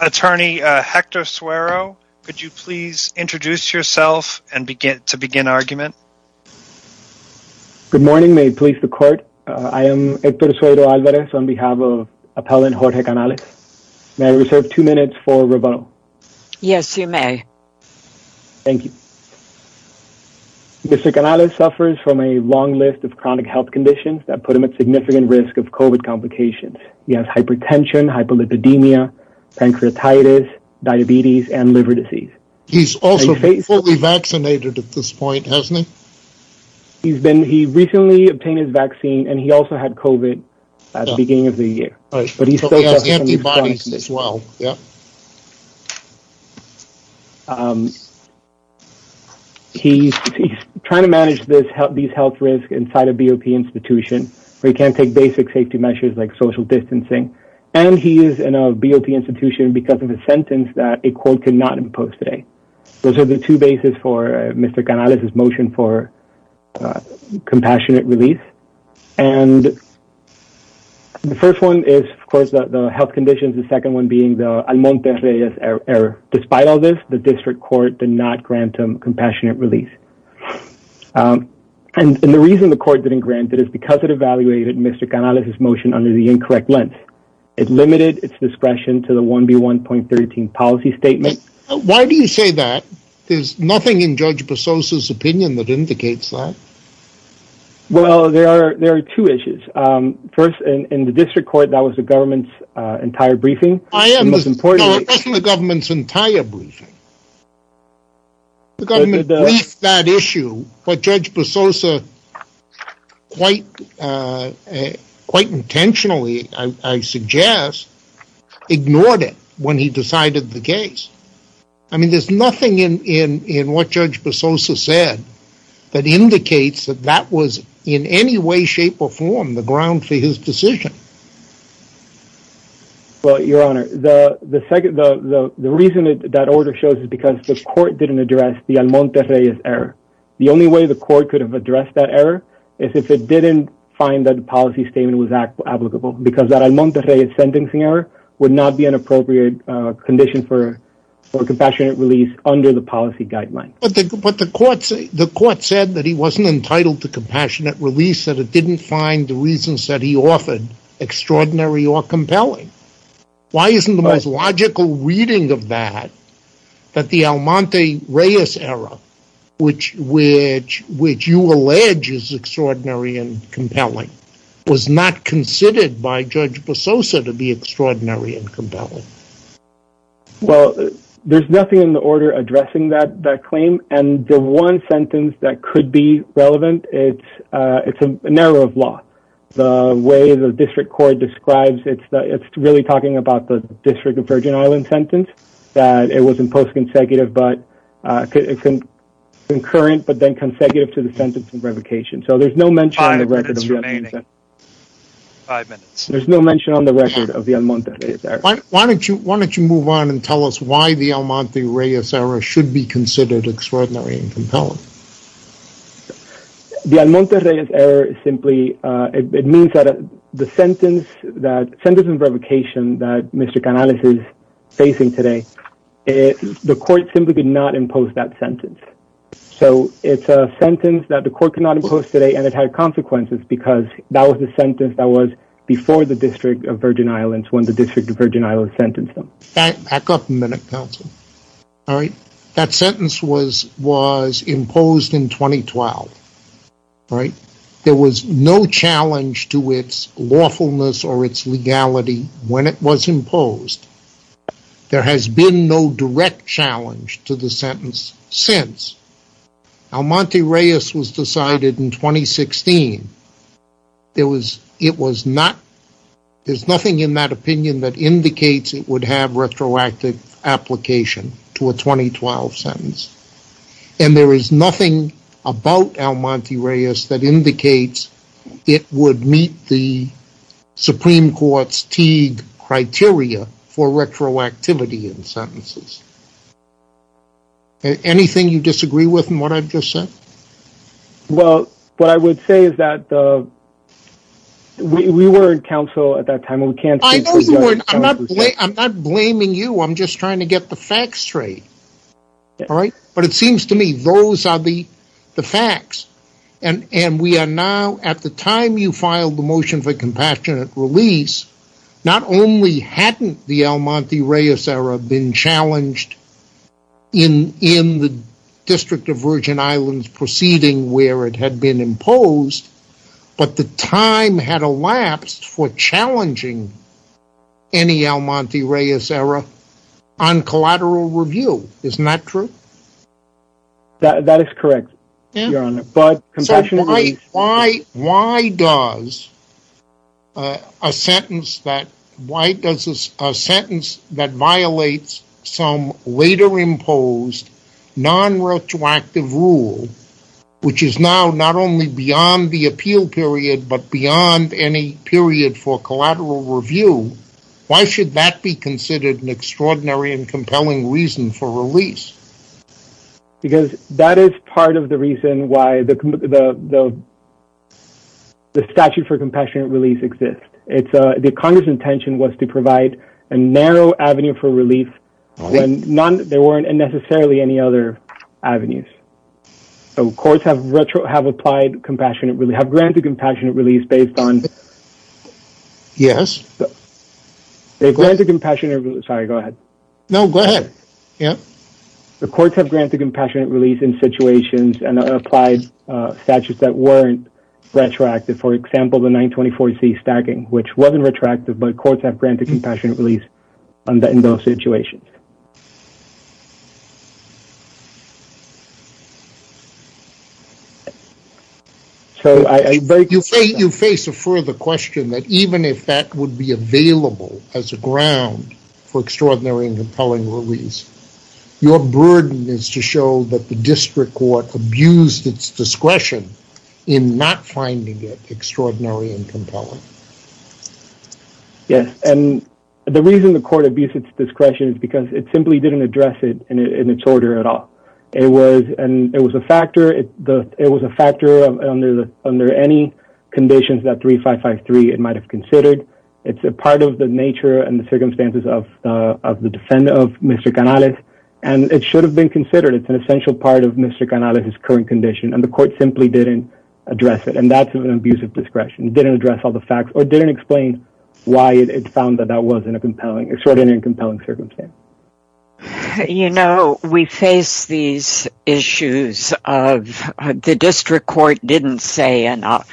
Attorney Hector Suero, could you please introduce yourself and begin to begin argument? Good morning, may it please the court. I am Hector Suero-Alvarez on behalf of appellant Jorge Canales. May I reserve two minutes for rebuttal? Yes, you may. Thank you. Mr. Canales suffers from a long list of chronic health conditions that put him at significant risk of COVID complications. He has hypertension, hyperlipidemia, pancreatitis, diabetes, and liver disease. He's also fully vaccinated at this point, hasn't he? He's been, he recently obtained his vaccine and he also had COVID at the beginning of the year. But he still has antibodies as well. Yeah. He's trying to manage this, these health risks inside a BOP institution where he can't take basic safety measures like social distancing. And he is in a BOP institution because of a sentence that a court could not impose today. Those are the two bases for Mr. Canales' motion for compassionate release. And the first one is, of course, the health conditions. The second one being the Almonte-Reyes error. Despite all this, the district court did not grant him compassionate release. And the reason the court didn't grant it is because it evaluated Mr. Canales' motion under the incorrect lens. It limited its discretion to the 1B1.13 policy statement. Why do you say that? There's nothing in Judge Brasosa's opinion that indicates that. Well, there are two issues. First, in the district court, that was the government's briefing. No, it wasn't the government's entire briefing. The government briefed that issue, but Judge Brasosa quite intentionally, I suggest, ignored it when he decided the case. I mean, there's nothing in what Judge Brasosa said that indicates that that was in any way, shape, or form the ground for his decision. Well, Your Honor, the reason that order shows is because the court didn't address the Almonte-Reyes error. The only way the court could have addressed that error is if it didn't find that the policy statement was applicable. Because that Almonte-Reyes sentencing error would not be an appropriate condition for compassionate release under the policy guideline. But the court said that he wasn't entitled to compassionate release, that it didn't find the reasons that he offered extraordinary or compelling. Why isn't the most logical reading of that that the Almonte-Reyes error, which you allege is extraordinary and compelling, was not considered by Judge Brasosa to be extraordinary and compelling? Well, there's nothing in the order addressing that claim, and the one sentence that could be relevant, it's a narrow of law. The way the district court describes it, it's really talking about the District of Virgin Islands sentence, that it was in post-concurrent but then consecutive to the sentence of revocation. So there's no mention on the record of the Almonte-Reyes error. Why don't you move on and tell us why the Almonte-Reyes error should be considered extraordinary and compelling? The Almonte-Reyes error is simply, it means that the sentence of revocation that Mr. Canales is facing today, the court simply could not impose that sentence. So it's a sentence that the court could not impose today and it had consequences because that was the sentence that was before the District of Virgin Islands when the District of Virgin Islands sentenced him. Back up a minute, counsel. All right, that sentence was imposed in 2012, right? There was no challenge to its lawfulness or its legality when it was imposed. There has been no direct challenge to the sentence since. Almonte-Reyes was decided in 2016. There was, it was not, there's nothing in that opinion that indicates it would have retroactive application to a 2012 sentence. And there is nothing about Almonte-Reyes that indicates it would meet the Supreme Court's Teague criteria for retroactivity in sentences. Anything you disagree with in what I've just said? Well, what I would say is that we were in counsel at that time and we can't... I'm not blaming you. I'm just trying to get the facts straight. All right. But it seems to me those are the facts. And we are now, at the time you filed the motion for compassionate release, not only hadn't the Almonte-Reyes error been challenged in the District of Virgin Islands proceeding where it had been imposed, but the time had elapsed for challenging any Almonte-Reyes error on collateral review. Isn't that true? That is correct, Your Honor. So why does a sentence that violates some later imposed non-retroactive rule, which is now not only beyond the appeal period, but beyond any period for collateral review, why should that be considered an extraordinary and compelling reason for release? Because that is part of the reason why the statute for compassionate release exists. The Congress' intention was to provide a narrow avenue for relief and there weren't necessarily any other avenues. So courts have granted compassionate release based on... Yes. They've granted compassionate... Sorry, go ahead. No, go ahead. Yeah. The courts have granted compassionate release in situations and applied statutes that weren't retroactive. For example, the 924C stacking, which wasn't retroactive, but courts have granted compassionate release in those situations. You face a further question that even if that would be available as a ground for extraordinary and compelling release, your burden is to show that the and compelling. Yes. And the reason the court abused its discretion is because it simply didn't address it in its order at all. It was a factor under any conditions that 3553 it might have considered. It's a part of the nature and the circumstances of the defendant of Mr. Canales and it should have been considered. It's an essential part of Mr. Canales' current condition and the court simply didn't address it. And that's an abuse of discretion. It didn't address all the facts or didn't explain why it found that that wasn't an extraordinary and compelling circumstance. You know, we face these issues of the district court didn't say enough.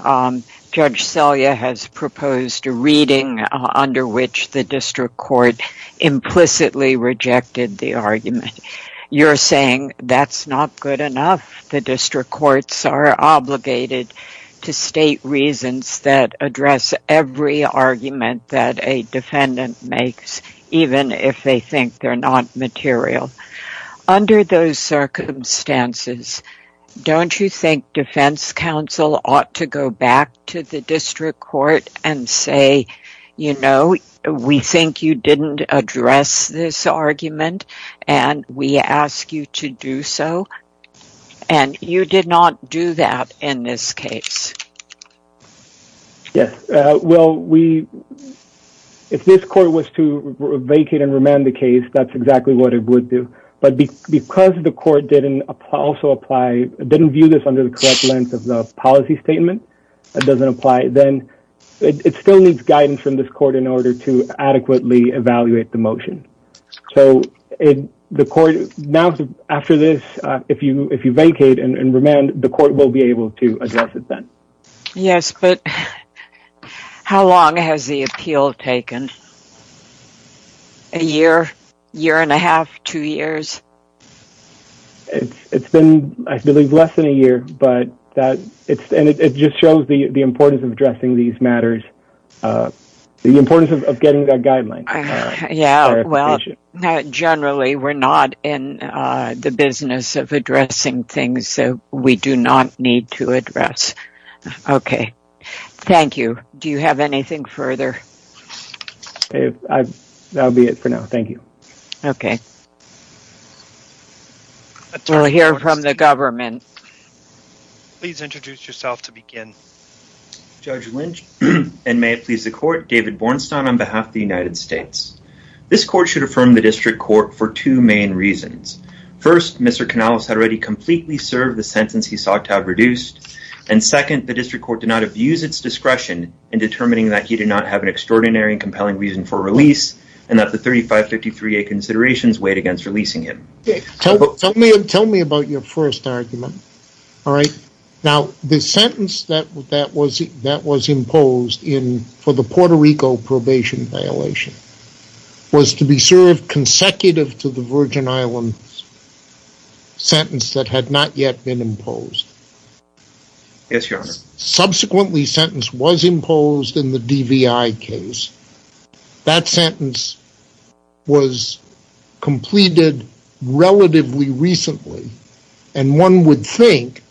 Judge Selye has proposed a reading under which the district court implicitly rejected the argument. You're saying that's not good enough. The district courts are obligated to state reasons that address every argument that a defendant makes, even if they think they're not material. Under those circumstances, don't you think defense counsel ought to go back to the district court and say, you know, we think you didn't address this argument and we ask you to do so. And you did not do that in this case. Yes. Well, if this court was to vacate and remand the case, that's exactly what it would do. But because the court didn't view this under the correct policy statement, that doesn't apply, then it still needs guidance from this court in order to adequately evaluate the motion. So the court now after this, if you vacate and remand, the court will be able to address it then. Yes. But how long has the appeal taken? A year, year and a half, two years. It's been, I believe, less than a year, but that it's and it just shows the importance of addressing these matters. The importance of getting that guideline. Yeah. Well, generally, we're not in the business of addressing things that we do not need to address. Okay. Thank you. Do you have anything further? Okay. That'll be it for now. Thank you. Okay. We'll hear from the government. Please introduce yourself to begin. Judge Lynch, and may it please the court, David Bornstein on behalf of the United States. This court should affirm the district court for two main reasons. First, Mr. Canales had already completely served the sentence he sought to have reduced. And second, the district court did not abuse its discretion in determining that he did not have an extraordinary and compelling reason for release and that the 3553A considerations weighed against releasing him. Tell me about your first argument. All right. Now, the sentence that was imposed for the Puerto Rico probation violation was to be served consecutive to the Virgin Islands sentence that had not yet been imposed. Yes, your honor. Subsequently, sentence was imposed in the DVI case. That sentence was completed relatively recently. And one would think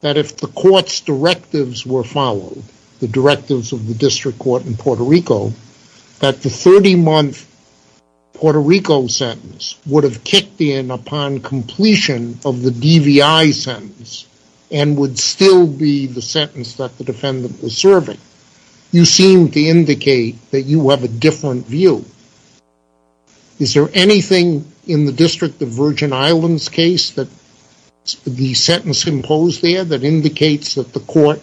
that if the court's directives were followed, the directives of the district court in Puerto Rico, that the 30-month Puerto Rico sentence would have kicked in upon completion of the DVI sentence and would still be the sentence that the defendant was serving. You seem to indicate that you have a different view. Is there anything in the district of Virgin Islands case that the sentence imposed there that indicates that the court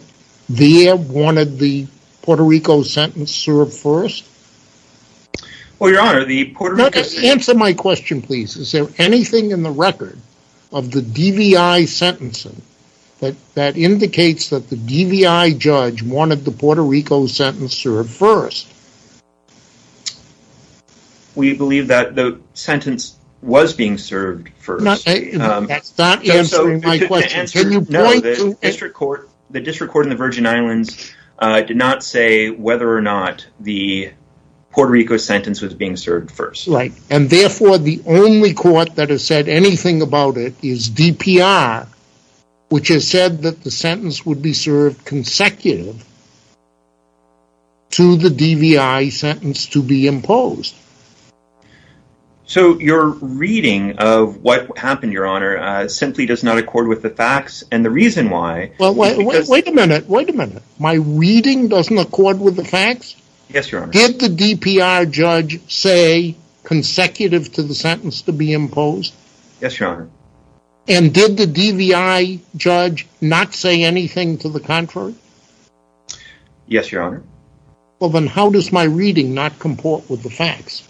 there wanted the Puerto Rico sentence served first? Well, your honor, the answer my question, please. Is there anything in the record of the DVI sentencing that indicates that the DVI judge wanted the Puerto Rico sentence served first? We believe that the sentence was being served first. That's not answering my question. The district court in the Virgin Islands did not say whether or not the Puerto Rico sentence was served first. Right. And therefore, the only court that has said anything about it is DPR, which has said that the sentence would be served consecutive to the DVI sentence to be imposed. So your reading of what happened, your honor, simply does not accord with the facts and the reason why. Well, wait a minute. Wait a minute. My reading doesn't accord with the facts? Yes, your honor. Did the DPR judge say consecutive to the sentence to be imposed? Yes, your honor. And did the DVI judge not say anything to the contrary? Yes, your honor. Well, then how does my reading not comport with the facts?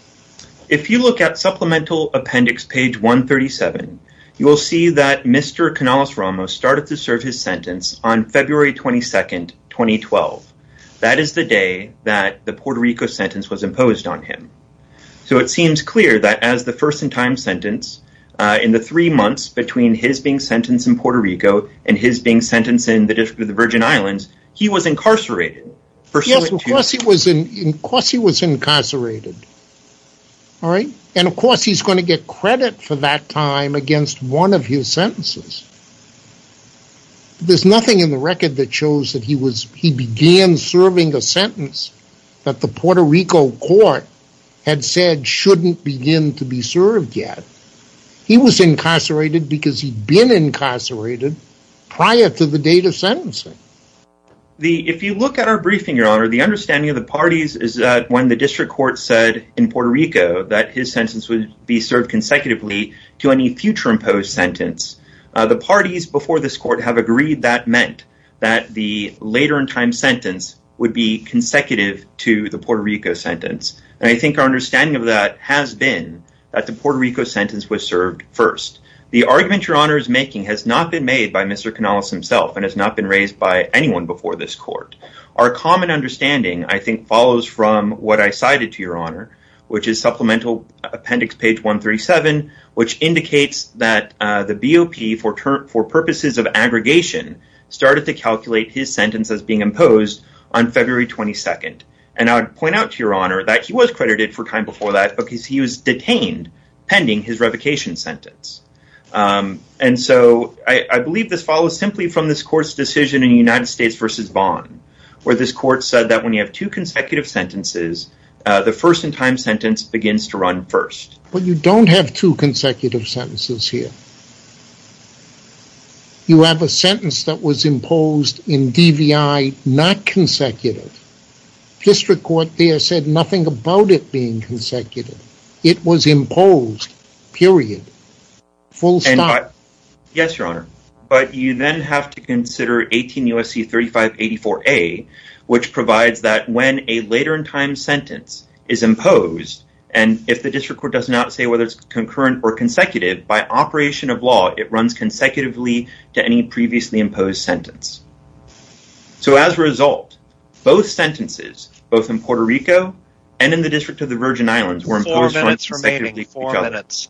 If you look at supplemental appendix page 137, you will see that Mr. Canales-Ramos started to the Puerto Rico sentence was imposed on him. So it seems clear that as the first in time sentence, in the three months between his being sentenced in Puerto Rico and his being sentenced in the District of the Virgin Islands, he was incarcerated. Yes, of course he was incarcerated. All right. And of course, he's going to get credit for that time against one of his sentences. There's nothing in the record that shows that he began serving a sentence that the Puerto Rico court had said shouldn't begin to be served yet. He was incarcerated because he'd been incarcerated prior to the date of sentencing. If you look at our briefing, your honor, the understanding of the parties is that when the district court said in Puerto Rico that his sentence would be served consecutively to any future imposed sentence, the parties before this court have agreed that meant that the later in time sentence would be consecutive to the Puerto Rico sentence. And I think our understanding of that has been that the Puerto Rico sentence was served first. The argument your honor is making has not been made by Mr. Canales himself and has not been raised by anyone before this court. Our common understanding, I think, follows from what I cited to your honor, which is supplemental appendix page 137, which indicates that the BOP for purposes of aggregation started to calculate his sentence as being imposed on February 22nd. And I would point out to your honor that he was credited for time before that because he was detained pending his revocation sentence. And so I believe this follows simply from this court's decision in the United States versus Vaughn, where this court said that when you have two consecutive sentences, the first in time sentence begins to run first. But you don't have two consecutive sentences here. You have a sentence that was imposed in DVI, not consecutive. District court there said nothing about it being consecutive. It was imposed, period. Full stop. Yes, your honor. But you then have to consider 18 USC 3584A, which provides that when a later in time sentence is imposed, and if the district court does not say whether it's concurrent or consecutive, by operation of law, it runs consecutively to any previously imposed sentence. So as a result, both sentences, both in Puerto Rico and in the district of the Virgin Islands were imposed on each other. Four minutes remaining. Four minutes.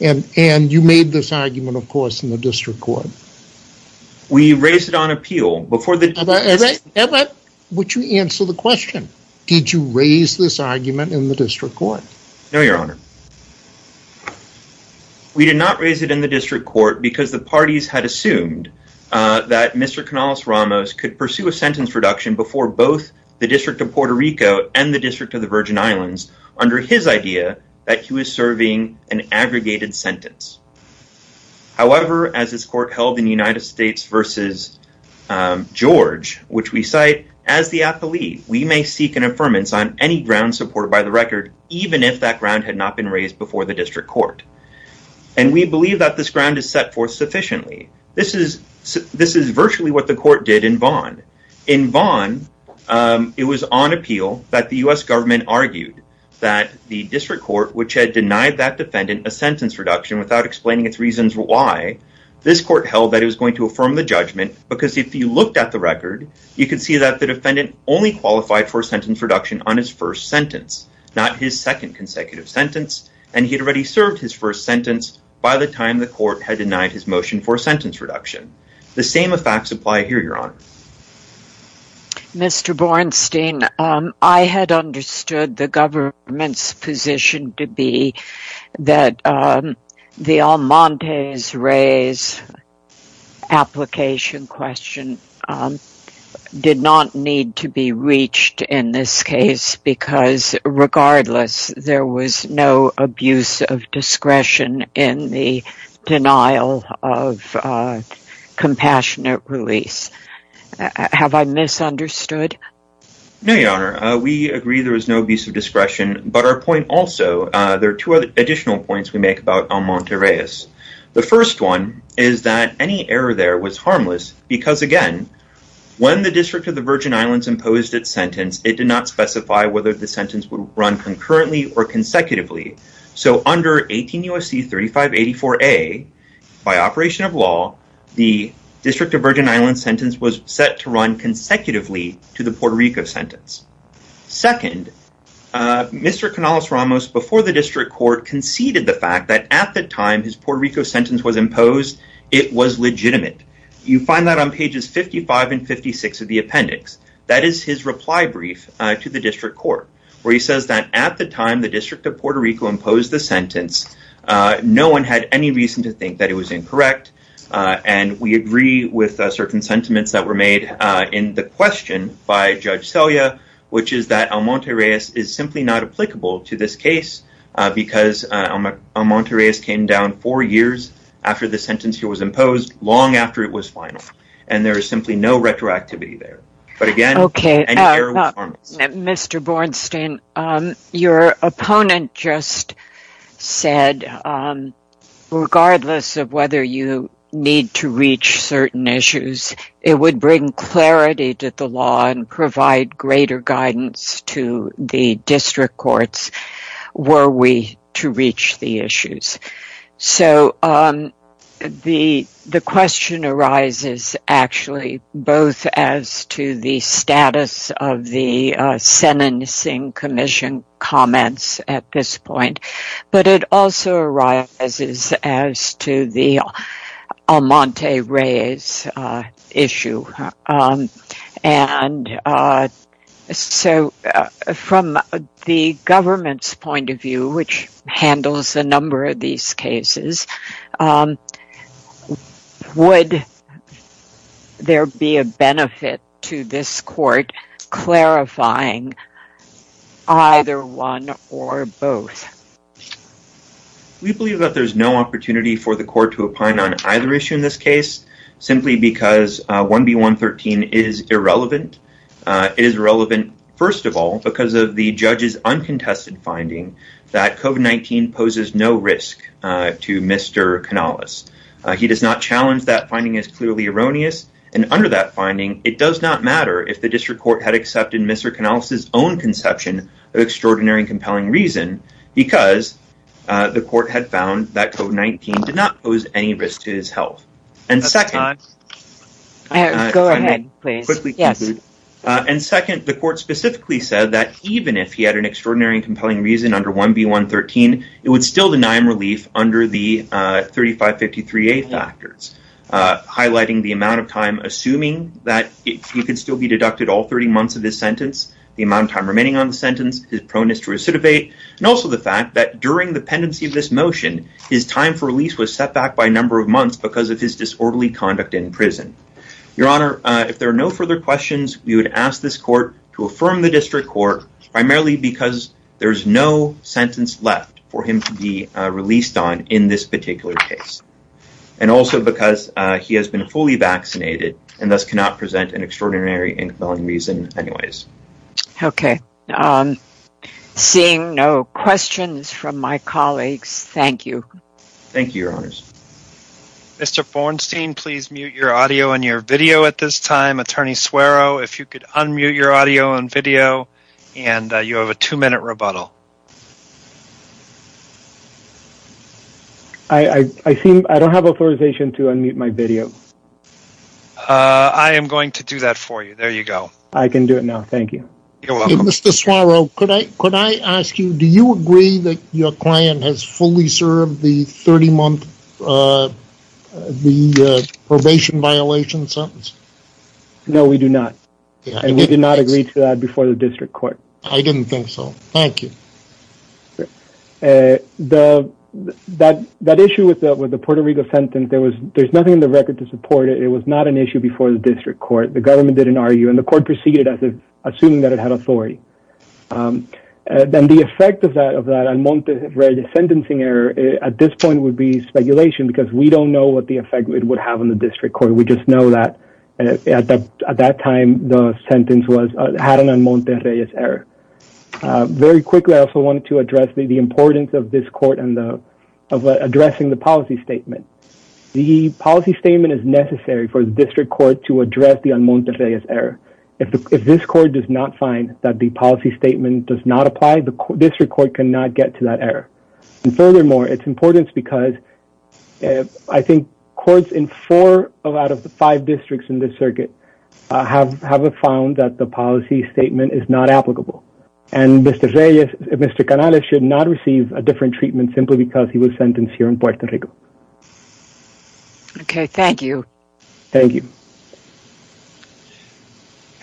And you made this argument, of course, in the district court. We raised it on appeal before the- Would you answer the question? Did you raise this argument in the district court? No, your honor. We did not raise it in the district court because the parties had assumed that Mr. Canales-Ramos could pursue a sentence reduction before both the district of Puerto Rico and the district of the Virgin Islands under his idea that he was serving an aggregated sentence. However, as this court held in the United States versus George, which we cite, as the athlete, we may seek an affirmance on any ground supported by the record, even if that ground had not been raised before the district court. And we believe that this ground is set forth sufficiently. This is virtually what the court did in Vaughan. In Vaughan, it was on appeal that the U.S. government argued that the district court, which had denied that defendant a sentence reduction without explaining its reasons why, this court held that it was going to affirm the judgment because if you looked at the record, you could see that the defendant only qualified for a sentence reduction on his first sentence, not his second consecutive sentence. And he had already served his first sentence by the time the court had denied his motion for a sentence reduction. The same effects apply here, your honor. Mr. Bornstein, I had understood the government's position to be that the Almonte's-Reyes application question did not need to be reached in this case because regardless, there was no abuse of discretion in the denial of compassionate release. Have I misunderstood? No, your honor. We agree there was no abuse of discretion, but our point also, there are two additional points we make about Almonte-Reyes. The first one is that any error there was harmless because again, when the District of the Virgin Islands imposed its whether the sentence would run concurrently or consecutively. So under 18 U.S.C. 3584A, by operation of law, the District of Virgin Islands sentence was set to run consecutively to the Puerto Rico sentence. Second, Mr. Canales-Ramos before the district court conceded the fact that at the time his Puerto Rico sentence was imposed, it was legitimate. You find that on pages 55 and 56 of the appendix. That is his reply brief to the district court, where he says that at the time the District of Puerto Rico imposed the sentence, no one had any reason to think that it was incorrect. And we agree with certain sentiments that were made in the question by Judge Selya, which is that Almonte-Reyes is simply not applicable to this case because Almonte-Reyes came down four years after the sentence here was imposed, long after it was final. And there is simply no retroactivity there. Mr. Bornstein, your opponent just said, regardless of whether you need to reach certain issues, it would bring clarity to the law and provide greater guidance to the district courts were we to reach the issues. So the question arises actually both as to the status of the sentencing commission comments at this point, but it also arises as to the Almonte-Reyes issue. And so from the government's point of view, which handles a number of these cases, would there be a benefit to this court clarifying either one or both? We believe that there's no opportunity for the court to opine on either issue in this case, simply because 1B113 is irrelevant. It is irrelevant, first of all, because of the judge's uncontested finding that COVID-19 poses no risk to Mr. Canales. He does not challenge that finding as clearly erroneous. And under that finding, it does not matter if the district court had accepted Mr. Canales' own conception of extraordinary and compelling reason because the court had found that COVID-19 did not pose any risk to his health. And second, the court specifically said that even if he had an extraordinary and compelling reason under 1B113, it would still deny him relief under the 3553A factors, highlighting the amount of time, assuming that he could still be deducted all 30 months of this sentence, the amount of pendency of this motion, his time for release was set back by a number of months because of his disorderly conduct in prison. Your Honor, if there are no further questions, we would ask this court to affirm the district court, primarily because there's no sentence left for him to be released on in this particular case. And also because he has been fully vaccinated and thus cannot present an extraordinary and compelling reason anyways. Okay. Seeing no questions from my colleagues, thank you. Thank you, Your Honors. Mr. Fornstein, please mute your audio and your video at this time. Attorney Suero, if you could unmute your audio and video, and you have a two-minute rebuttal. I don't have authorization to unmute my video. I am going to do that for you. There you go. I can do it now. Thank you. You're welcome. Mr. Suero, could I ask you, do you agree that your client has fully served the 30-month probation violation sentence? No, we do not. And we did not agree to that before the district court. I didn't think so. Thank you. That issue with the Puerto Rico sentence, there's nothing in the record to support it. It was not an issue before the district court. The government didn't argue, and the court proceeded as if assuming that it had authority. Then the effect of that Almonte-Reyes sentencing error at this point would be speculation, because we don't know what the effect it would have on the district court. We just know that at that time, the Almonte-Reyes error. Very quickly, I also wanted to address the importance of this court and addressing the policy statement. The policy statement is necessary for the district court to address the Almonte-Reyes error. If this court does not find that the policy statement does not apply, the district court cannot get to that error. And furthermore, it's important because I think courts in four of out of the five districts in this circuit have found that the policy statement is not applicable. And Mr. Canales should not receive a different treatment simply because he was sentenced here in Puerto Rico. Okay, thank you. Thank you.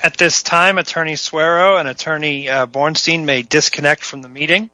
At this time, Attorney Suero and Attorney Bornstein may disconnect from the meeting.